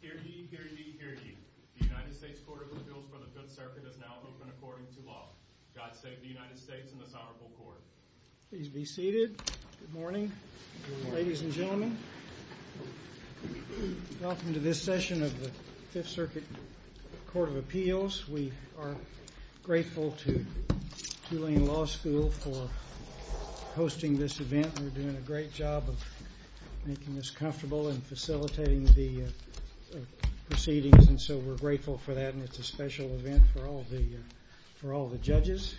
Hear ye, hear ye, hear ye. The United States Court of Appeals for the 5th Circuit is now open according to law. God save the United States and this honorable court. Please be seated. Good morning, ladies and gentlemen. Welcome to this session of the Tulane Law School for hosting this event. We're doing a great job of making this comfortable and facilitating the proceedings and so we're grateful for that and it's a special event for all the judges.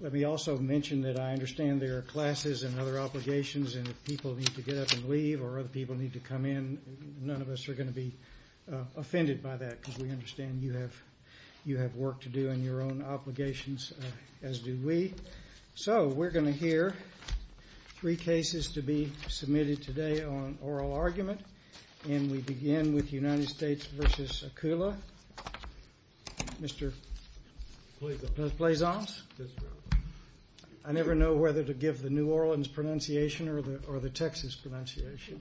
Let me also mention that I understand there are classes and other obligations and if people need to get up and leave or other people need to come in, none of us are going to be offended by that because we understand you have work to do and your own obligations as do we. So we're going to hear three cases to be submitted today on oral argument and we begin with United States v. Akula. Mr. Blaisance. I never know whether to give the New Orleans pronunciation or the Texas pronunciation.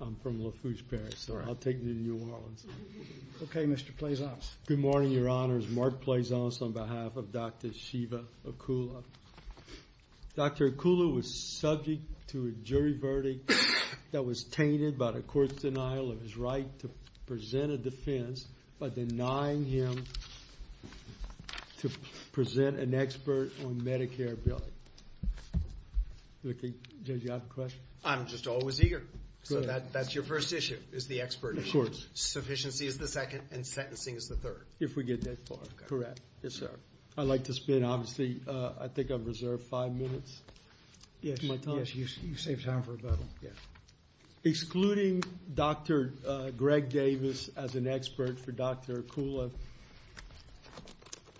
I'm from Lafourche, Paris so I'll take the New Orleans. Okay, Mr. Blaisance. Good morning, your honors. Mark Blaisance on behalf of Dr. Shiva Akula. Dr. Akula was subject to a jury verdict that was tainted by the court's denial of his right to present a defense by denying him to present an expert on Medicare billing. Judge, do you have a question? I'm just always eager. So that's your first issue, is the expert issue. Of course. Sufficiency is the second and sentencing is the third. If we get that far, correct. Yes, sir. I'd like to spend, obviously, I think I've reserved five minutes. Yes, you saved time for rebuttal. Excluding Dr. Greg Davis as an expert for Dr. Akula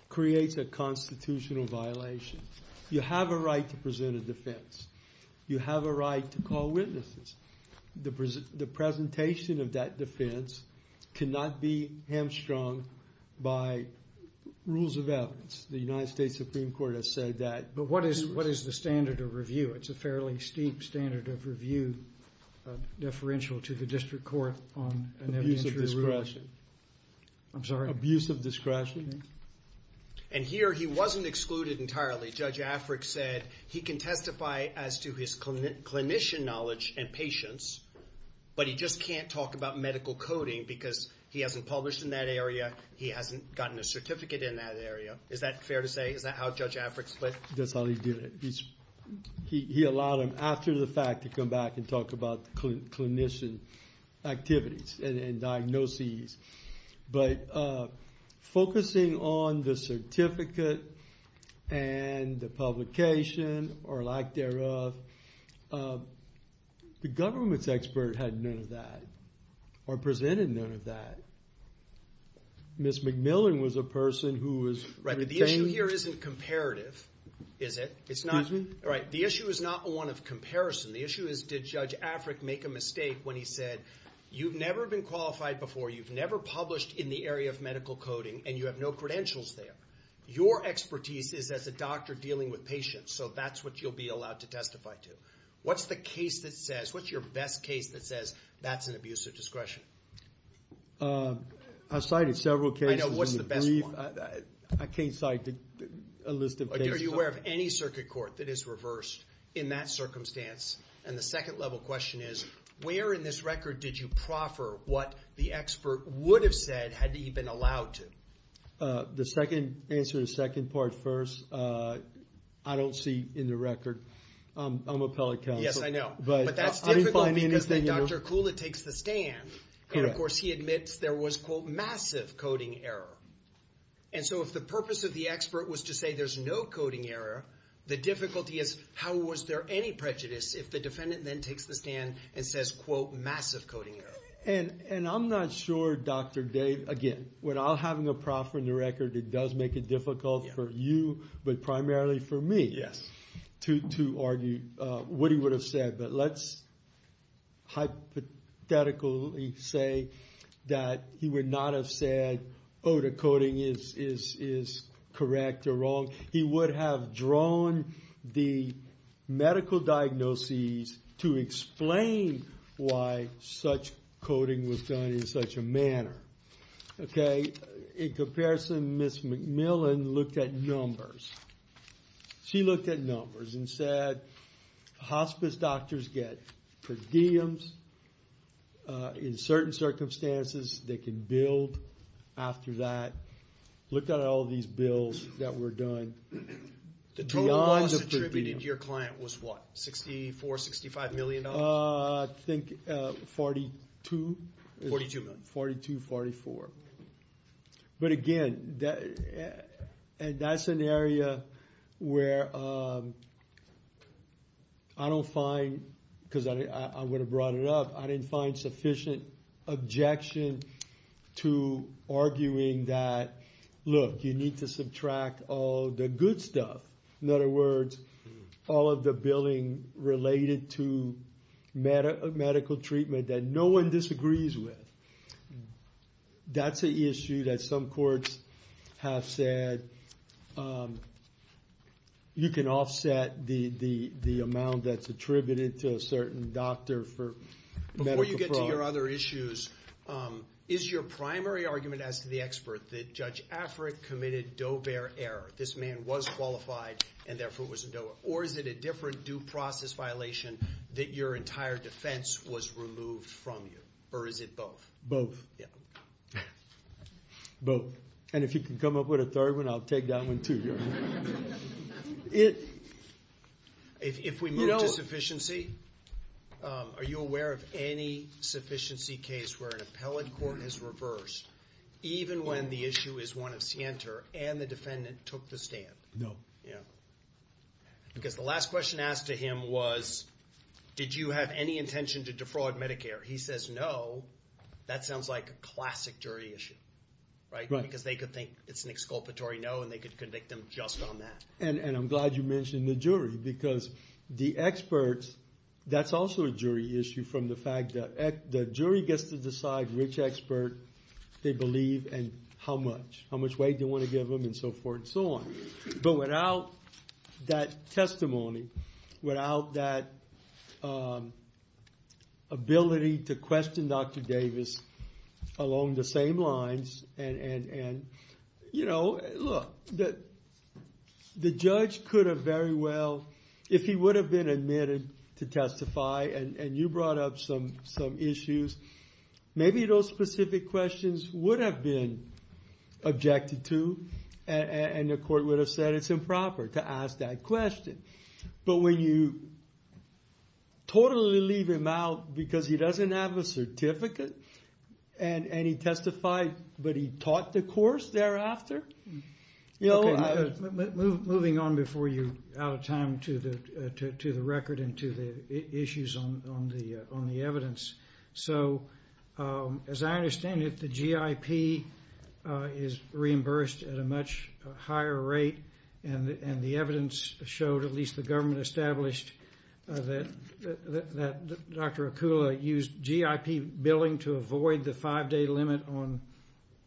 creates a constitutional violation. You have a right to present a defense. You have a right to call witnesses. The presentation of that defense cannot be hamstrung by rules of evidence. The United States Supreme Court has said that. But what is the standard of review? It's a fairly steep standard of review deferential to the district court on an evidentiary ruling. Abuse of discretion. I'm sorry? Abuse of discretion. And here he wasn't excluded entirely. Judge Afric said he can testify as to his clinician knowledge and patience, but he just can't talk about medical coding because he hasn't published in that area, he hasn't gotten a certificate in that area. Is that fair to say? Is that how Judge Afric split? That's how he did it. He allowed him, after the fact, to come back and talk about clinician activities and diagnoses. But focusing on the certificate and the publication or lack thereof, the government's expert had none of that or presented none of that. Ms. McMillan was a person who was retained. Right, but the issue here isn't comparative, is it? Excuse me? Right, the issue is not one of comparison. The issue is did Judge Afric make a mistake when he said, you've never been qualified before, you've never published in the area of medical coding, and you have no credentials there. Your expertise is as a doctor dealing with patients, so that's what you'll be allowed to testify to. What's the case that says, what's your best case that says that's an abuse of discretion? I've cited several cases in the brief. I can't cite a list of cases. Are you aware of any circuit court that is reversed in that circumstance? And the second level question is, where in this record did you proffer what the expert would have said had he been allowed to? The second answer to the second part first, I don't see in the record. I'm appellate counsel. Yes, I know. But that's difficult because then Dr. Kula takes the stand. And of course he admits there was, quote, massive coding error. And so if the purpose of the expert was to say there's no coding error, the difficulty is how was there any prejudice if the defendant then takes the stand and says, quote, massive coding error? And I'm not sure, Dr. Dave, again, when I'm having a proffer in the record, it does make it difficult for you but primarily for me to argue what he would have said. But let's hypothetically say that he would not have said, oh, the coding is correct or wrong. He would have drawn the medical diagnoses to explain why such coding was done in such a manner. In comparison, Ms. McMillan looked at numbers. She looked at numbers and said, hospice doctors get per diems. In certain circumstances, they can build after that. Looked at all these bills that were done. The total loss attributed to your client was what? $64, $65 million? I think $42. $42 million. $42, $44. But again, that's an area where I don't find, because I would have brought it up, I didn't find sufficient objection to arguing that, look, you need to subtract all the good stuff. In other words, all of the billing related to medical treatment that no one disagrees with. That's an issue that some courts have said you can offset the amount that's attributed to a certain doctor for medical fraud. To your other issues, is your primary argument, as to the expert, that Judge Affreck committed Doe-Bear error? This man was qualified, and therefore was in Doe-Bear. Or is it a different due process violation that your entire defense was removed from you? Or is it both? Both. Yeah. Both. And if you can come up with a third one, I'll take that one, too. If we move to sufficiency, are you aware of any sufficiency case where an appellate court has reversed, even when the issue is one of scienter and the defendant took the stand? No. Yeah. Because the last question asked to him was, did you have any intention to defraud Medicare? He says no. That sounds like a classic jury issue. Right? Right. Because they could think it's an exculpatory no, and they could convict him just on that. And I'm glad you mentioned the jury, because the experts, that's also a jury issue from the fact that the jury gets to decide which expert they believe and how much. How much weight they want to give them and so forth and so on. But without that testimony, without that ability to question Dr. Davis along the same lines, and look, the judge could have very well, if he would have been admitted to testify and you brought up some issues, maybe those specific questions would have been objected to and the court would have said it's improper to ask that question. But when you totally leave him out because he doesn't have a certificate and he testified, but he taught the course thereafter? Moving on before you're out of time to the record and to the issues on the evidence. So as I understand it, the GIP is reimbursed at a much higher rate, and the evidence showed, at least the government established, that Dr. Akula used GIP billing to avoid the five-day limit on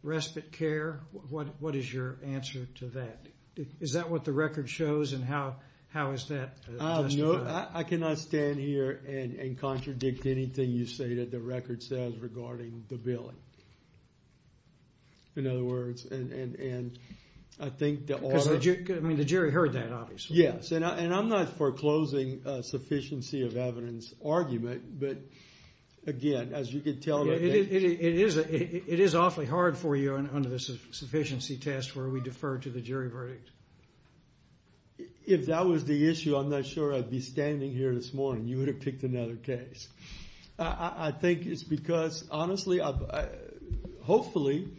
respite care. What is your answer to that? Is that what the record shows and how is that testified? I cannot stand here and contradict anything you say that the record says regarding the billing. In other words, and I think the author... Because the jury heard that, obviously. Yes, and I'm not foreclosing a sufficiency of evidence argument, but again, as you could tell... It is awfully hard for you under the sufficiency test where we defer to the jury verdict. If that was the issue, I'm not sure I'd be standing here this morning. You would have picked another case. I think it's because, honestly, hopefully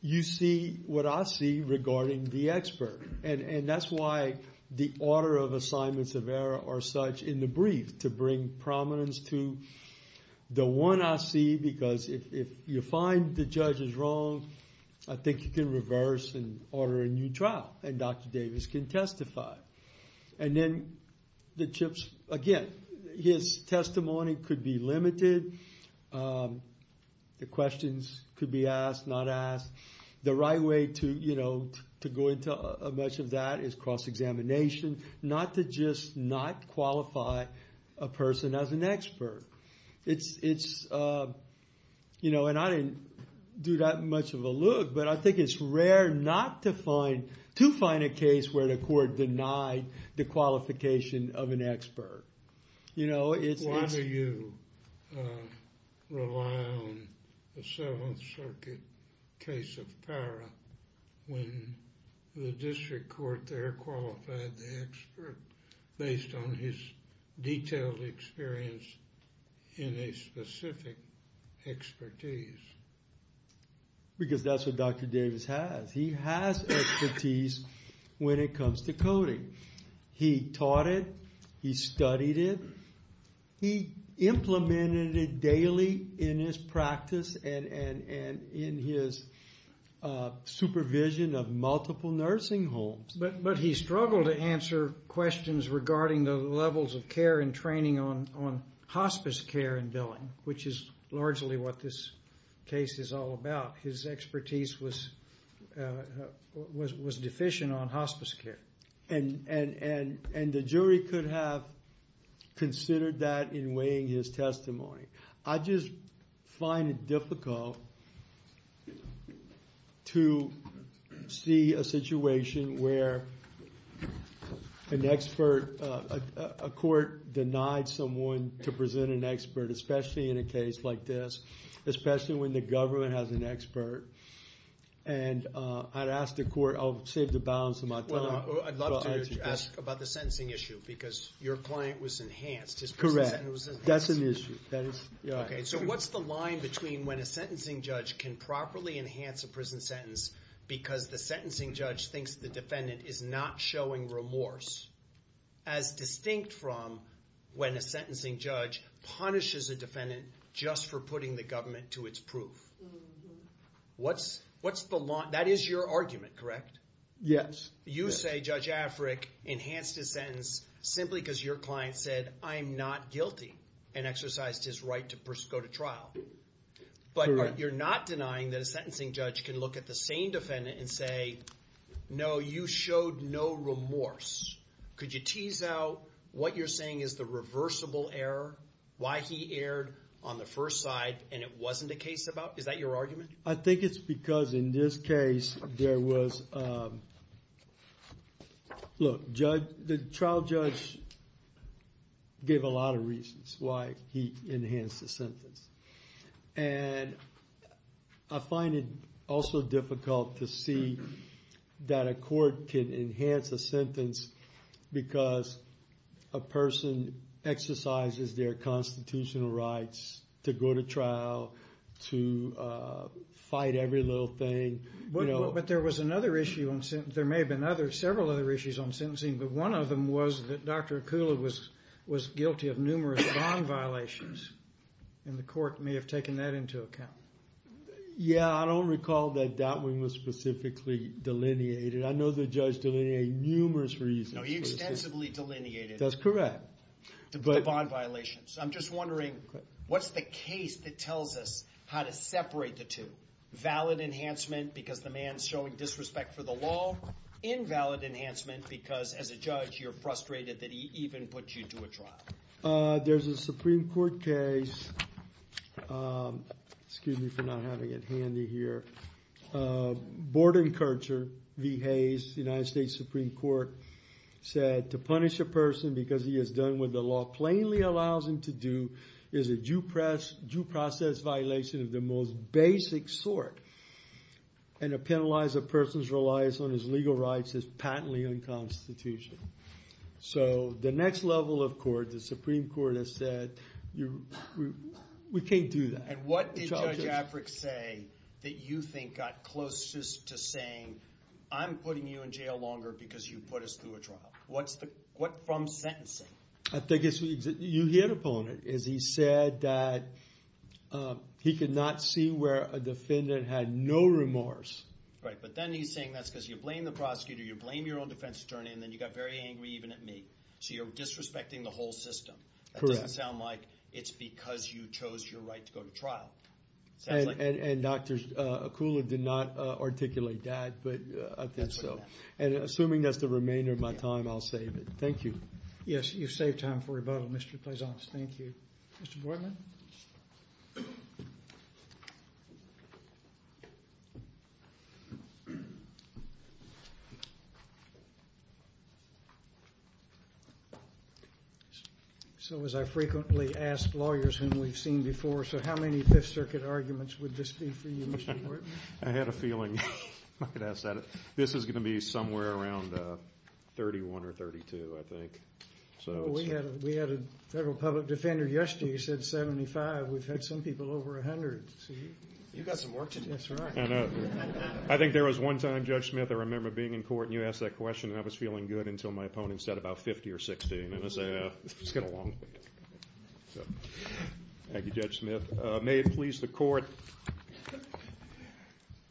you see what I see regarding the expert. And that's why the order of assignments of error are such in the brief to bring prominence to the one I see. Because if you find the judge is wrong, I think you can reverse and order a new trial, and Dr. Davis can testify. And then the GIPs, again, his testimony could be limited. The questions could be asked, not asked. The right way to go into much of that is cross-examination, not to just not qualify a person as an expert. And I didn't do that much of a look, but I think it's rare not to find a case where the court denied the qualification of an expert. Why do you rely on the Seventh Circuit case of Parra when the district court there qualified the expert based on his detailed experience in a specific expertise? Because that's what Dr. Davis has. He has expertise when it comes to coding. He taught it. He studied it. He implemented it daily in his practice and in his supervision of multiple nursing homes. But he struggled to answer questions regarding the levels of care and training on hospice care and billing, which is largely what this case is all about. His expertise was deficient on hospice care. And the jury could have considered that in weighing his testimony. I just find it difficult to see a situation where a court denied someone to present an expert, especially in a case like this, especially when the government has an expert. And I'd ask the court, I'll save the balance of my time. Well, I'd love to ask about the sentencing issue because your client was enhanced. That's an issue. OK. So what's the line between when a sentencing judge can properly enhance a prison sentence because the sentencing judge thinks the defendant is not showing remorse, as distinct from when a sentencing judge punishes a defendant just for putting the government to its proof? What's the line? That is your argument, correct? Yes. You say Judge Afric enhanced his sentence simply because your client said, I'm not guilty, and exercised his right to go to trial. Correct. But you're not denying that a sentencing judge can look at the same defendant and say, no, you showed no remorse. Could you tease out what you're saying is the reversible error, why he erred on the first side and it wasn't a case about? Is that your argument? I think it's because in this case, the trial judge gave a lot of reasons why he enhanced the sentence. And I find it also difficult to see that a court can enhance a sentence because a person exercises their constitutional rights to go to trial, to fight every little thing. But there was another issue. There may have been several other issues on sentencing, but one of them was that Dr. Akula was guilty of numerous bond violations. And the court may have taken that into account. Yeah, I don't recall that that one was specifically delineated. I know the judge delineated numerous reasons. No, he extensively delineated. That's correct. The bond violations. I'm just wondering, what's the case that tells us how to separate the two? Valid enhancement because the man's showing disrespect for the law? Invalid enhancement because as a judge, you're frustrated that he even put you to a trial? There's a Supreme Court case. Excuse me for not having it handy here. Borden Kercher v. Hayes, United States Supreme Court, said to punish a person because he has done what the law plainly allows him to do is a due process violation of the most basic sort. And to penalize a person's reliance on his legal rights is patently unconstitutional. So the next level of court, the Supreme Court has said, we can't do that. And what did Judge Afric say that you think got closest to saying, I'm putting you in jail longer because you put us through a trial? What's the – from sentencing? I think it's – you hit upon it, is he said that he could not see where a defendant had no remorse. Right, but then he's saying that's because you blame the prosecutor, you blame your own defense attorney, and then you got very angry even at me. So you're disrespecting the whole system. Correct. It doesn't sound like it's because you chose your right to go to trial. And Dr. Kula did not articulate that, but I think so. And assuming that's the remainder of my time, I'll save it. Thank you. Yes, you've saved time for rebuttal, Mr. Pleasant. Thank you. Mr. Borden? Mr. Borden? So as I frequently ask lawyers whom we've seen before, so how many Fifth Circuit arguments would this be for you, Mr. Borden? I had a feeling I could ask that. This is going to be somewhere around 31 or 32, I think. We had a federal public defender yesterday who said 75. We've had some people over 100. You've got some work to do. That's right. I know. I think there was one time, Judge Smith, I remember being in court and you asked that question and I was feeling good until my opponent said about 50 or 60. And I said, it's going to be long. Thank you, Judge Smith. May it please the court.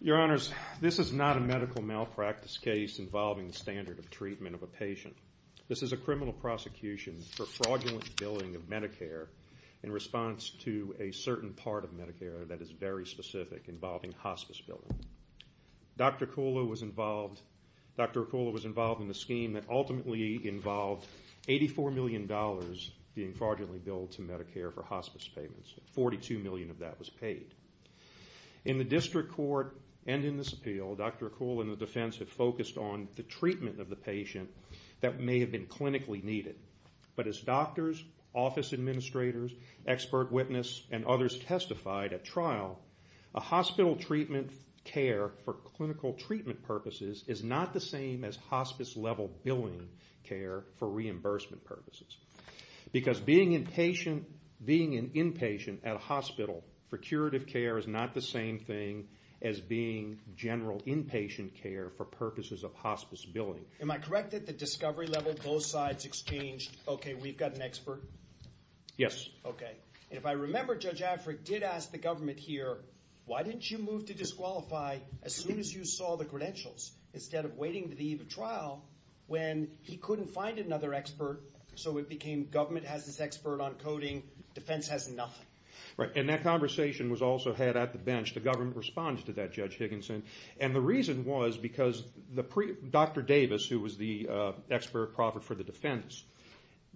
Your Honors, this is not a medical malpractice case involving the standard of treatment of a patient. This is a criminal prosecution for fraudulent billing of Medicare in response to a certain part of Medicare that is very specific involving hospice billing. Dr. Acoula was involved in the scheme that ultimately involved $84 million being fraudulently billed to Medicare for hospice payments. $42 million of that was paid. In the district court and in this appeal, Dr. Acoula and the defense have focused on the treatment of the patient that may have been clinically needed. But as doctors, office administrators, expert witnesses, and others testified at trial, a hospital treatment care for clinical treatment purposes is not the same as hospice level billing care for reimbursement purposes. Because being an inpatient at a hospital for curative care is not the same thing as being general inpatient care for purposes of hospice billing. Am I correct that the discovery level both sides exchanged, okay, we've got an expert? Yes. Okay. And if I remember, Judge Afric did ask the government here, why didn't you move to disqualify as soon as you saw the credentials? Instead of waiting to the eve of trial when he couldn't find another expert, so it became government has this expert on coding, defense has nothing. Right. And that conversation was also had at the bench. The government responded to that, Judge Higginson. And the reason was because Dr. Davis, who was the expert for the defense,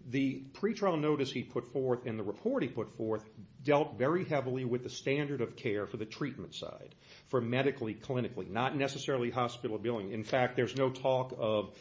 the pre-trial notice he put forth and the report he put forth dealt very heavily with the standard of care for the treatment side, for medically, clinically, not necessarily hospital billing. In fact, there's no talk of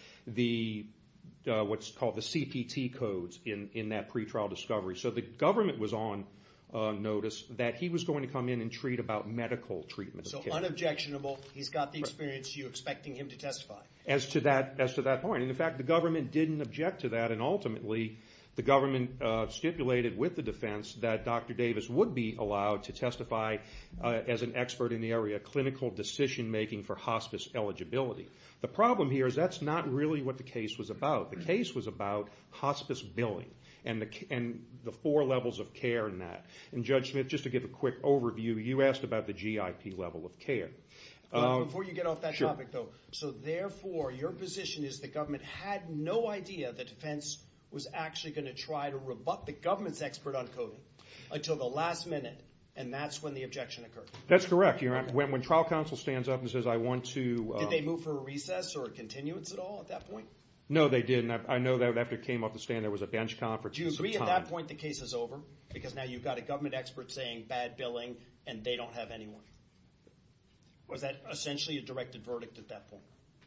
what's called the CPT codes in that pre-trial discovery. So the government was on notice that he was going to come in and treat about medical treatment. So unobjectionable, he's got the experience, you're expecting him to testify. As to that point. In fact, the government didn't object to that and ultimately the government stipulated with the defense that Dr. Davis would be allowed to testify as an expert in the area of clinical decision making for hospice eligibility. The problem here is that's not really what the case was about. The case was about hospice billing and the four levels of care in that. And Judge Smith, just to give a quick overview, you asked about the GIP level of care. Before you get off that topic though, so therefore your position is the government had no idea the defense was actually going to try to rebut the government's expert on coding until the last minute and that's when the objection occurred. That's correct. When trial counsel stands up and says I want to. Did they move for a recess or a continuance at all at that point? No, they didn't. I know that after it came off the stand there was a bench conference. Did you agree at that point the case is over because now you've got a government expert saying bad billing and they don't have anyone? Was that essentially a directed verdict at that point?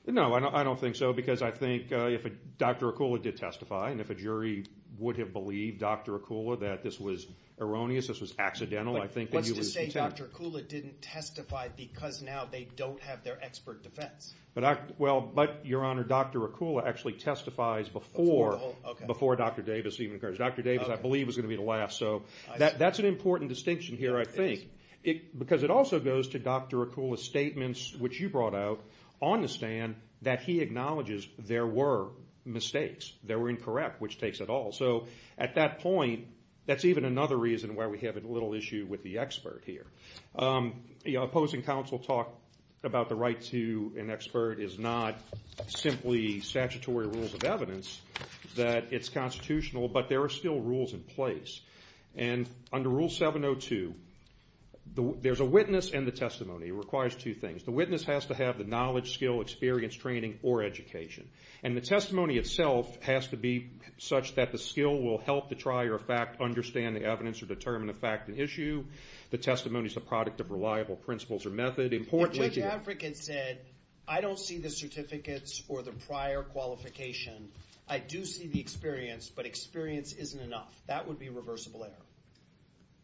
No, I don't think so because I think if Dr. Akula did testify and if a jury would have believed Dr. Akula that this was erroneous, this was accidental. What's to say Dr. Akula didn't testify because now they don't have their expert defense? Your Honor, Dr. Akula actually testifies before Dr. Davis even occurs. Dr. Davis I believe was going to be the last. That's an important distinction here I think because it also goes to Dr. Akula's statements which you brought out on the stand that he acknowledges there were mistakes. They were incorrect which takes it all. At that point that's even another reason why we have a little issue with the expert here. The opposing counsel talk about the right to an expert is not simply statutory rules of evidence. It's constitutional but there are still rules in place. Under Rule 702 there's a witness and the testimony. It requires two things. The witness has to have the knowledge, skill, experience, training, or education. The testimony itself has to be such that the skill will help the trier of fact understand the evidence or determine the fact of the issue. The testimony is the product of reliable principles or method. If Judge Afric had said I don't see the certificates for the prior qualification. I do see the experience but experience isn't enough. That would be reversible error.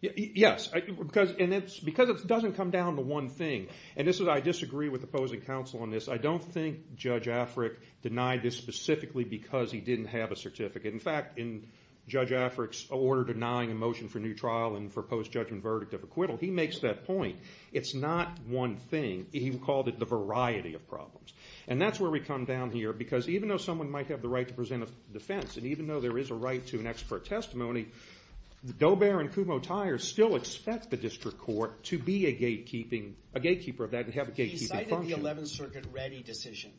Yes, because it doesn't come down to one thing. I disagree with opposing counsel on this. I don't think Judge Afric denied this specifically because he didn't have a certificate. In fact, in Judge Afric's order denying a motion for new trial and for post-judgment verdict of acquittal, he makes that point. It's not one thing. He called it the variety of problems. And that's where we come down here because even though someone might have the right to present a defense and even though there is a right to an expert testimony, Dobair and Kumho Tiers still expect the district court to be a gatekeeper of that and have a gatekeeping function. He cited the 11th Circuit ready decision.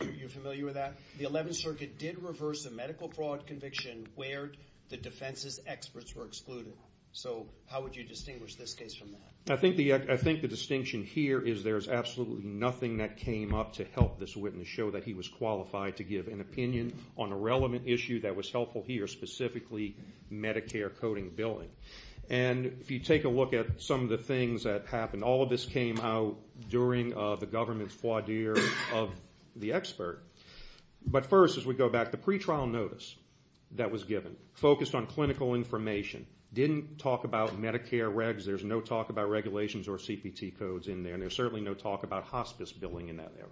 Are you familiar with that? The 11th Circuit did reverse a medical fraud conviction where the defense's experts were excluded. So how would you distinguish this case from that? I think the distinction here is there's absolutely nothing that came up to help this witness show that he was qualified to give an opinion on a relevant issue that was helpful here, specifically Medicare coding billing. And if you take a look at some of the things that happened, and all of this came out during the government's voir dire of the expert, but first as we go back, the pretrial notice that was given focused on clinical information. It didn't talk about Medicare regs. There's no talk about regulations or CPT codes in there, and there's certainly no talk about hospice billing in that area.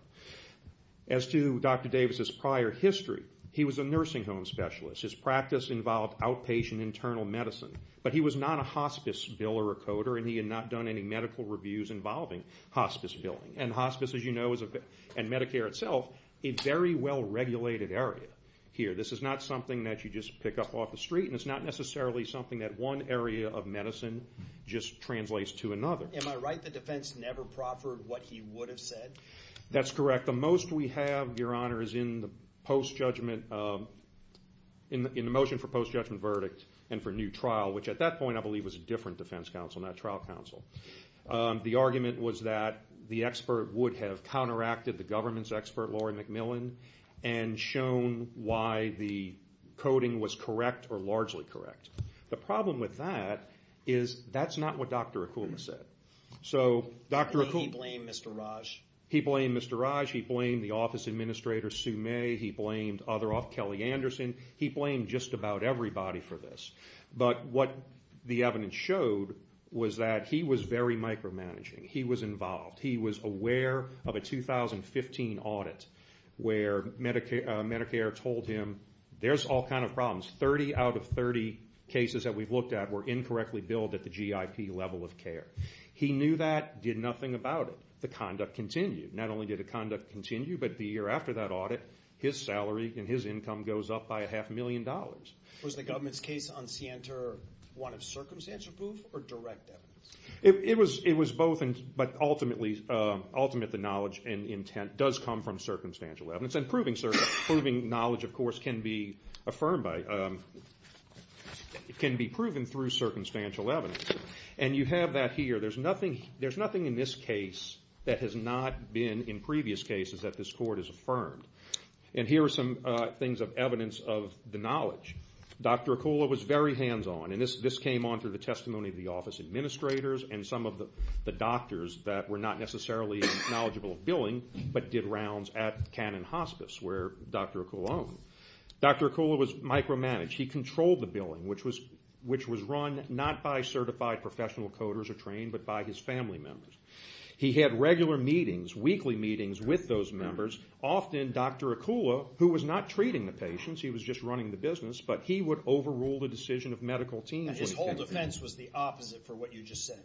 As to Dr. Davis's prior history, he was a nursing home specialist. His practice involved outpatient internal medicine, but he was not a hospice biller or coder, and he had not done any medical reviews involving hospice billing. And hospice, as you know, and Medicare itself, a very well-regulated area here. This is not something that you just pick up off the street, and it's not necessarily something that one area of medicine just translates to another. Am I right that the defense never proffered what he would have said? That's correct. The most we have, Your Honor, is in the motion for post-judgment verdict and for new trial, which at that point I believe was a different defense counsel, not trial counsel. The argument was that the expert would have counteracted the government's expert, Laurie McMillan, and shown why the coding was correct or largely correct. The problem with that is that's not what Dr. Akula said. He blamed Mr. Raj. He blamed Mr. Raj. He blamed the office administrator, Sue May. He blamed Kelly Anderson. He blamed just about everybody for this. But what the evidence showed was that he was very micromanaging. He was involved. He was aware of a 2015 audit where Medicare told him there's all kinds of problems. 30 out of 30 cases that we've looked at were incorrectly billed at the GIP level of care. He knew that, did nothing about it. The conduct continued. Not only did the conduct continue, but the year after that audit, his salary and his income goes up by a half million dollars. Was the government's case on Sienter one of circumstantial proof or direct evidence? It was both, but ultimately the knowledge and intent does come from circumstantial evidence. And proving knowledge, of course, can be proven through circumstantial evidence. And you have that here. There's nothing in this case that has not been in previous cases that this court has affirmed. And here are some things of evidence of the knowledge. Dr. Akula was very hands-on, and this came on through the testimony of the office administrators and some of the doctors that were not necessarily knowledgeable of billing, but did rounds at Cannon Hospice, where Dr. Akula owned. Dr. Akula was micromanaged. He controlled the billing, which was run not by certified professional coders or trained, but by his family members. He had regular meetings, weekly meetings with those members. Often Dr. Akula, who was not treating the patients, he was just running the business, but he would overrule the decision of medical teams. And his whole defense was the opposite for what you just said.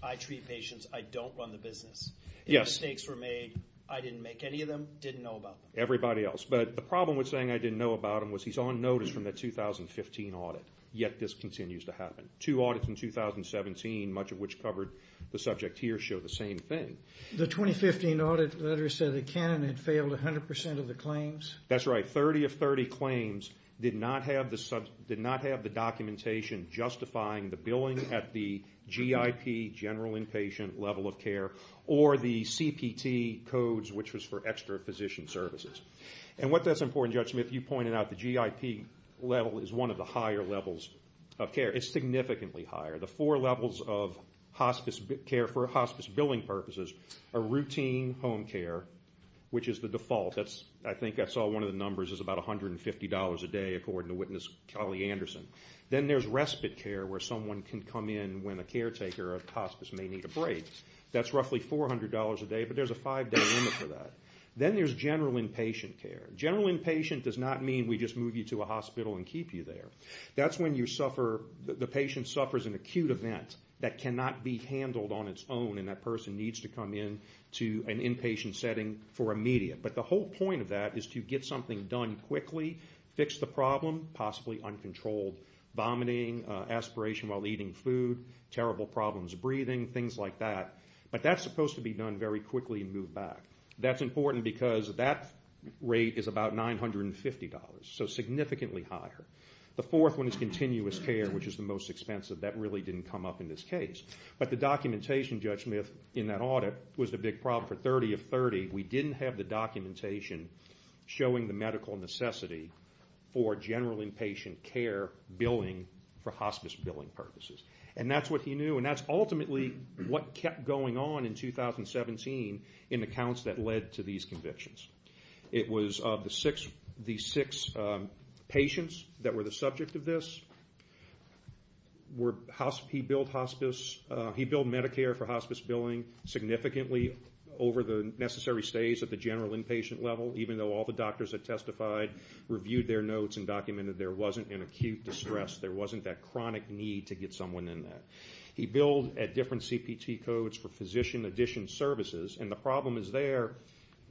I treat patients. I don't run the business. If mistakes were made, I didn't make any of them, didn't know about them. Everybody else. But the problem with saying I didn't know about him was he's on notice from the 2015 audit, yet this continues to happen. Two audits in 2017, much of which covered the subject here, show the same thing. The 2015 audit letter said that Cannon had failed 100% of the claims. That's right. 30 of 30 claims did not have the documentation justifying the billing at the GIP, general inpatient level of care, or the CPT codes, which was for extra physician services. And what that's important, Judge Smith, you pointed out, the GIP level is one of the higher levels of care. It's significantly higher. The four levels of hospice care for hospice billing purposes are routine home care, which is the default. I think I saw one of the numbers is about $150 a day, according to witness Kelly Anderson. Then there's respite care where someone can come in when a caretaker or a hospice may need a break. That's roughly $400 a day, but there's a five-day limit for that. Then there's general inpatient care. General inpatient does not mean we just move you to a hospital and keep you there. That's when the patient suffers an acute event that cannot be handled on its own, and that person needs to come in to an inpatient setting for immediate. But the whole point of that is to get something done quickly, fix the problem, possibly uncontrolled vomiting, aspiration while eating food, terrible problems breathing, things like that. But that's supposed to be done very quickly and moved back. That's important because that rate is about $950, so significantly higher. The fourth one is continuous care, which is the most expensive. That really didn't come up in this case. But the documentation, Judge Smith, in that audit was the big problem for 30 of 30. We didn't have the documentation showing the medical necessity for general inpatient care billing for hospice billing purposes. That's what he knew, and that's ultimately what kept going on in 2017 in accounts that led to these convictions. It was the six patients that were the subject of this. He billed hospice. He billed Medicare for hospice billing significantly over the necessary stays at the general inpatient level, even though all the doctors that testified reviewed their notes and documented there wasn't an acute distress, there wasn't that chronic need to get someone in that. He billed at different CPT codes for physician-additioned services, and the problem is there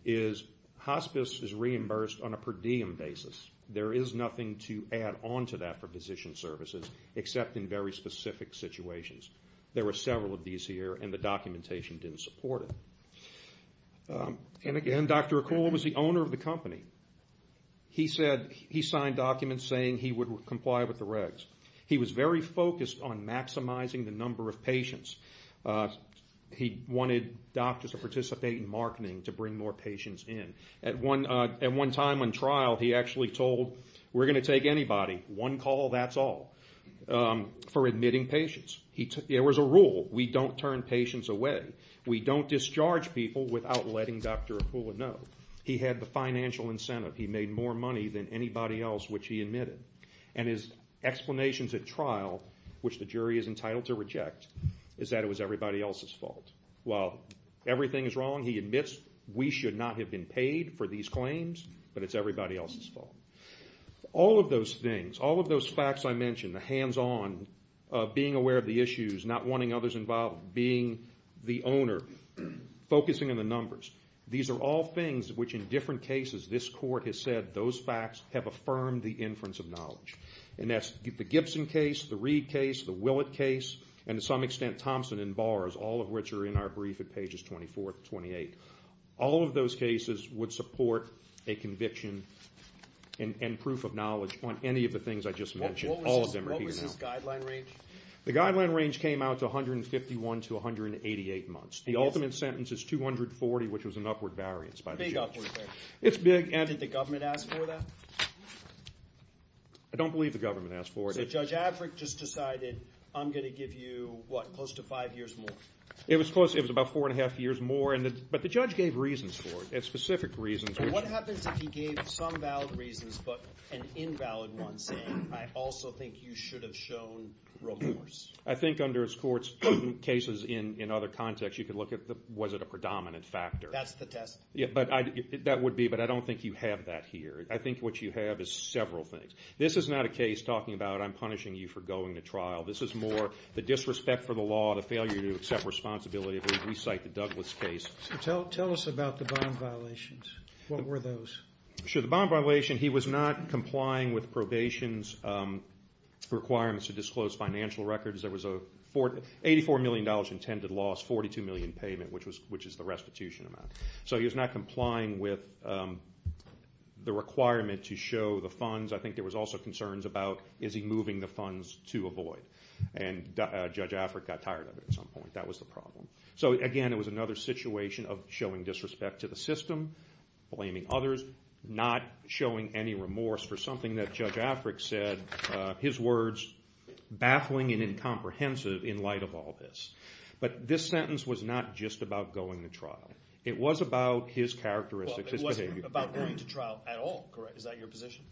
is hospice is reimbursed on a per diem basis. There is nothing to add on to that for physician services, except in very specific situations. There were several of these here, and the documentation didn't support it. And again, Dr. Akul was the owner of the company. He said he signed documents saying he would comply with the regs. He was very focused on maximizing the number of patients. He wanted doctors to participate in marketing to bring more patients in. At one time on trial, he actually told, we're going to take anybody, one call, that's all, for admitting patients. There was a rule. We don't turn patients away. We don't discharge people without letting Dr. Akul know. He had the financial incentive. He made more money than anybody else which he admitted, and his explanations at trial, which the jury is entitled to reject, is that it was everybody else's fault. While everything is wrong, he admits we should not have been paid for these claims, but it's everybody else's fault. All of those things, all of those facts I mentioned, the hands-on, being aware of the issues, not wanting others involved, being the owner, focusing on the numbers, these are all things which in different cases this court has said, those facts have affirmed the inference of knowledge. And that's the Gibson case, the Reed case, the Willett case, and to some extent Thompson and Bars, all of which are in our brief at pages 24 to 28. All of those cases would support a conviction and proof of knowledge on any of the things I just mentioned. All of them are here now. What was his guideline range? The guideline range came out to 151 to 188 months. The ultimate sentence is 240, which was an upward variance by the judge. Big upward variance. It's big. Did the government ask for that? I don't believe the government asked for it. So Judge Affrick just decided I'm going to give you, what, close to five years more? It was close. It was about four and a half years more, but the judge gave reasons for it, specific reasons. What happens if he gave some valid reasons but an invalid one, saying I also think you should have shown remorse? I think under his court's cases in other contexts you could look at was it a predominant factor. That's the test. That would be, but I don't think you have that here. I think what you have is several things. This is not a case talking about I'm punishing you for going to trial. This is more the disrespect for the law, the failure to accept responsibility. We cite the Douglas case. Tell us about the bond violations. What were those? Sure. The bond violation, he was not complying with probation's requirements to disclose financial records. There was an $84 million intended loss, $42 million payment, which is the restitution amount. So he was not complying with the requirement to show the funds. I think there was also concerns about is he moving the funds to avoid? And Judge Afric got tired of it at some point. That was the problem. So, again, it was another situation of showing disrespect to the system, blaming others, not showing any remorse for something that Judge Afric said, his words baffling and incomprehensive in light of all this. But this sentence was not just about going to trial. It was about his characteristics, his behavior. It wasn't about going to trial at all, correct? Is that your position?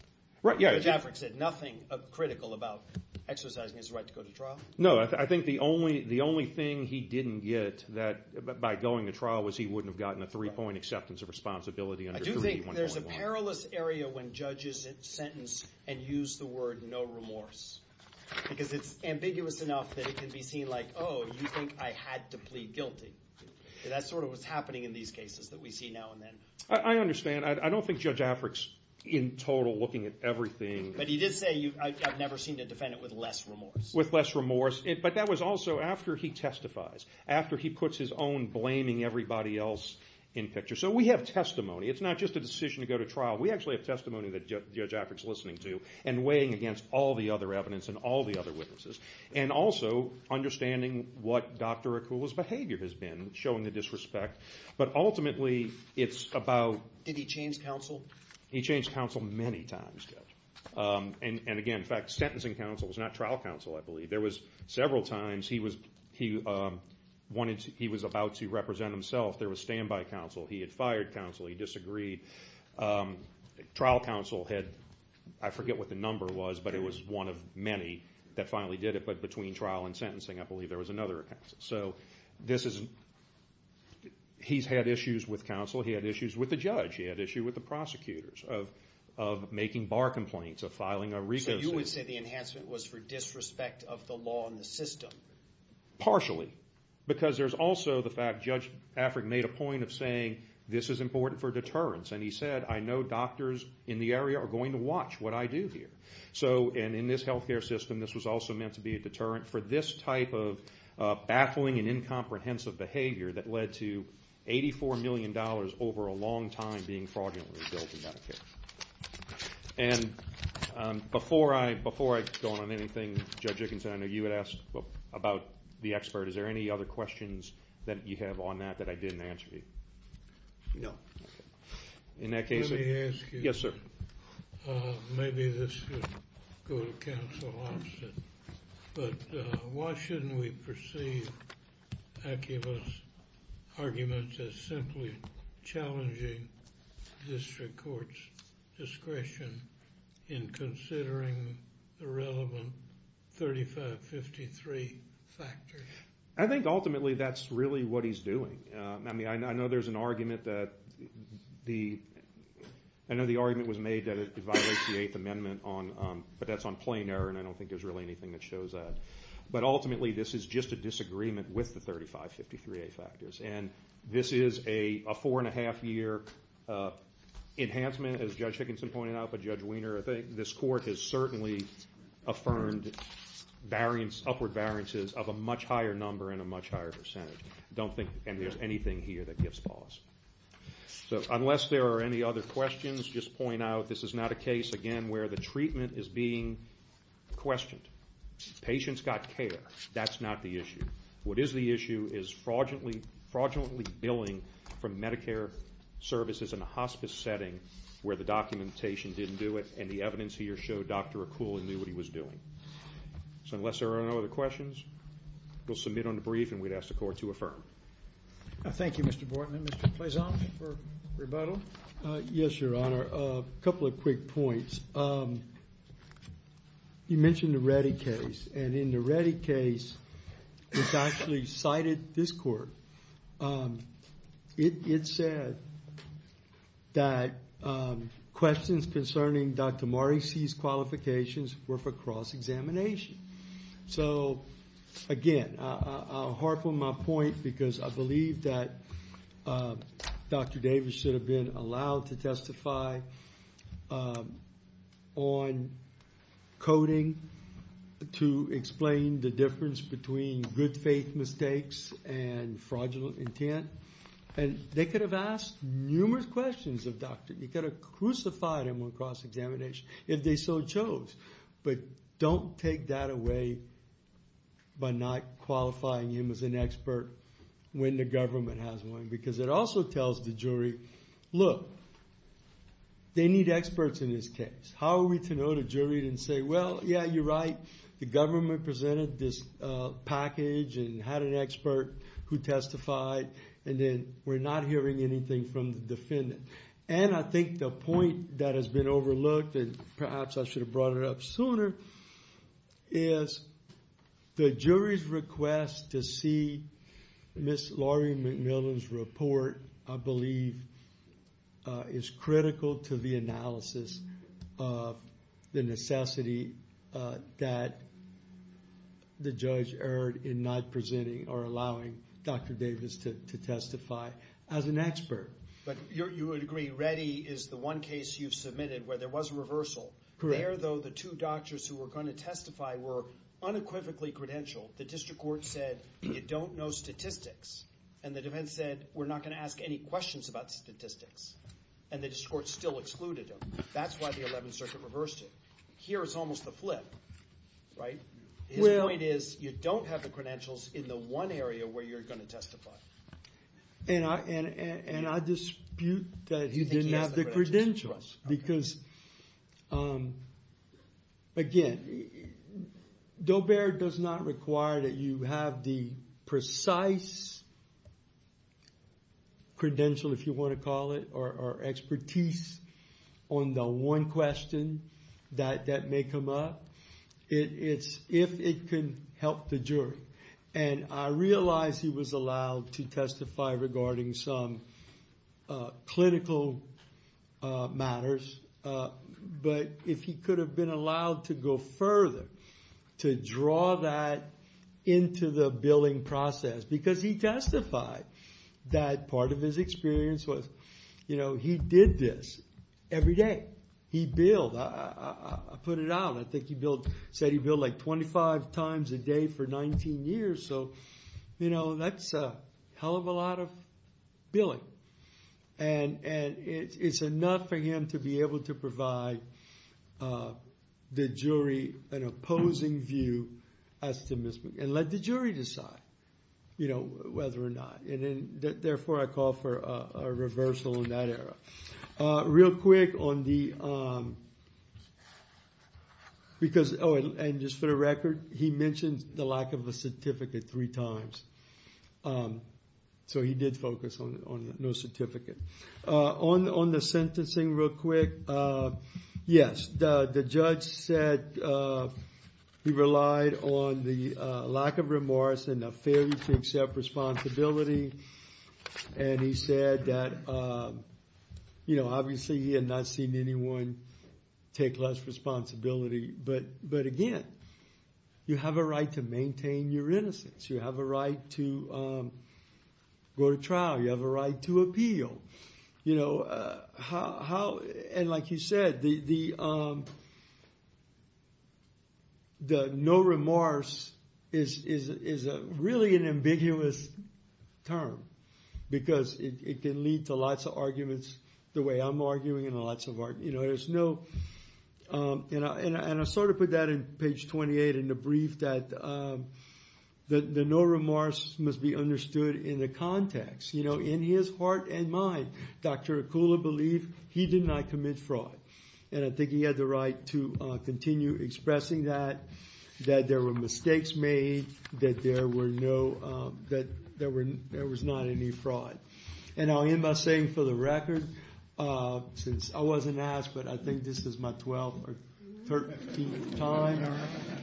Judge Afric said nothing critical about exercising his right to go to trial? No. I think the only thing he didn't get by going to trial was he wouldn't have gotten a three-point acceptance of responsibility. I do think there's a perilous area when judges sentence and use the word no remorse because it's ambiguous enough that it can be seen like, oh, you think I had to plead guilty. That's sort of what's happening in these cases that we see now and then. I understand. I don't think Judge Afric's in total looking at everything. But he did say, I've never seen a defendant with less remorse. With less remorse. But that was also after he testifies, after he puts his own blaming everybody else in picture. So we have testimony. It's not just a decision to go to trial. We actually have testimony that Judge Afric's listening to and weighing against all the other evidence and all the other witnesses and also understanding what Dr. Akula's behavior has been, showing the disrespect. But ultimately, it's about... Did he change counsel? He changed counsel many times, Judge. And again, in fact, sentencing counsel was not trial counsel, I believe. There was several times he was about to represent himself. There was standby counsel. He had fired counsel. He disagreed. Trial counsel had, I forget what the number was, but it was one of many that finally did it. But between trial and sentencing, I believe, there was another counsel. So this is an... He's had issues with counsel. He had issues with the judge. He had issues with the prosecutors of making bar complaints, of filing a RICO suit. So you would say the enhancement was for disrespect of the law and the system? Partially, because there's also the fact Judge Afric made a point of saying this is important for deterrence, and he said, I know doctors in the area are going to watch what I do here. And in this health care system, this was also meant to be a deterrent for this type of baffling and incomprehensive behavior that led to $84 million over a long time being fraudulently built in health care. And before I go on to anything, Judge Dickinson, I know you had asked about the expert. Is there any other questions that you have on that that I didn't answer to you? No. Let me ask you. Yes, sir. Maybe this could go to Counsel Hobson, but why shouldn't we perceive Acula's arguments as simply challenging district court's discretion in considering the relevant 3553 factors? I think ultimately that's really what he's doing. I know the argument was made that it violates the Eighth Amendment, but that's on plain error, and I don't think there's really anything that shows that. But ultimately this is just a disagreement with the 3553A factors, and this is a four-and-a-half-year enhancement, as Judge Dickinson pointed out, but Judge Weiner, I think this court has certainly affirmed upward variances of a much higher number and a much higher percentage. I don't think there's anything here that gives pause. So unless there are any other questions, just point out this is not a case, again, where the treatment is being questioned. The patient's got care. That's not the issue. What is the issue is fraudulently billing from Medicare services in a hospice setting where the documentation didn't do it and the evidence here showed Dr. Acula knew what he was doing. So unless there are no other questions, we'll submit on the brief and we'd ask the Court to affirm. Thank you, Mr. Bortman. Mr. Pleasant for rebuttal. Yes, Your Honor. A couple of quick points. You mentioned the Reddy case, and in the Reddy case, it actually cited this court. It said that questions concerning Dr. Morrissey's qualifications were for cross-examination. So, again, I'll harp on my point because I believe that Dr. Davis should have been allowed to testify on coding to explain the difference between good faith mistakes and fraudulent intent. And they could have asked numerous questions of Dr. Morrissey. You could have crucified him on cross-examination if they so chose. But don't take that away by not qualifying him as an expert when the government has one because it also tells the jury, look, they need experts in this case. How are we to know the jury didn't say, well, yeah, you're right, the government presented this package and had an expert who testified, and then we're not hearing anything from the defendant. And I think the point that has been overlooked, and perhaps I should have brought it up sooner, is the jury's request to see Ms. Laurie McMillan's report, I believe, is critical to the analysis of the necessity that the judge erred in not presenting or allowing Dr. Davis to testify as an expert. But you would agree Reddy is the one case you've submitted where there was a reversal. There, though, the two doctors who were going to testify were unequivocally credentialed. The district court said you don't know statistics, and the defense said we're not going to ask any questions about statistics. And the district court still excluded him. That's why the 11th Circuit reversed it. Here it's almost the flip, right? His point is you don't have the credentials in the one area where you're going to testify. And I dispute that he didn't have the credentials because, again, Dobear does not require that you have the precise credential, if you want to call it, or expertise on the one question that may come up. It's if it can help the jury. And I realize he was allowed to testify regarding some clinical matters. But if he could have been allowed to go further, to draw that into the billing process, because he testified that part of his experience was he did this every day. He billed. I put it out. I think he said he billed like 25 times a day for 19 years. So that's a hell of a lot of billing. And it's enough for him to be able to provide the jury an opposing view, and let the jury decide whether or not. Therefore, I call for a reversal in that area. Real quick on the, because, oh, and just for the record, he mentioned the lack of a certificate three times. So he did focus on no certificate. On the sentencing, real quick, yes, the judge said he relied on the lack of remorse and the failure to accept responsibility. And he said that obviously he had not seen anyone take less responsibility. But again, you have a right to maintain your innocence. You have a right to go to trial. You have a right to appeal. And like you said, the no remorse is really an ambiguous term, because it can lead to lots of arguments the way I'm arguing and lots of arguments. And I sort of put that in page 28 in the brief, that the no remorse must be understood in the context, in his heart and mind. Dr. Akula believed he did not commit fraud. And I think he had the right to continue expressing that, that there were mistakes made, that there was not any fraud. And I'll end by saying, for the record, since I wasn't asked, but I think this is my 12th or 13th time,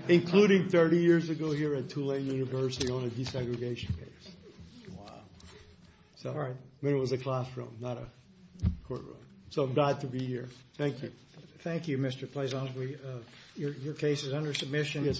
including 30 years ago here at Tulane University on a desegregation case. I mean, it was a classroom, not a courtroom. So I'm glad to be here. Thank you. Thank you, Mr. Pleasant. Your case is under submission.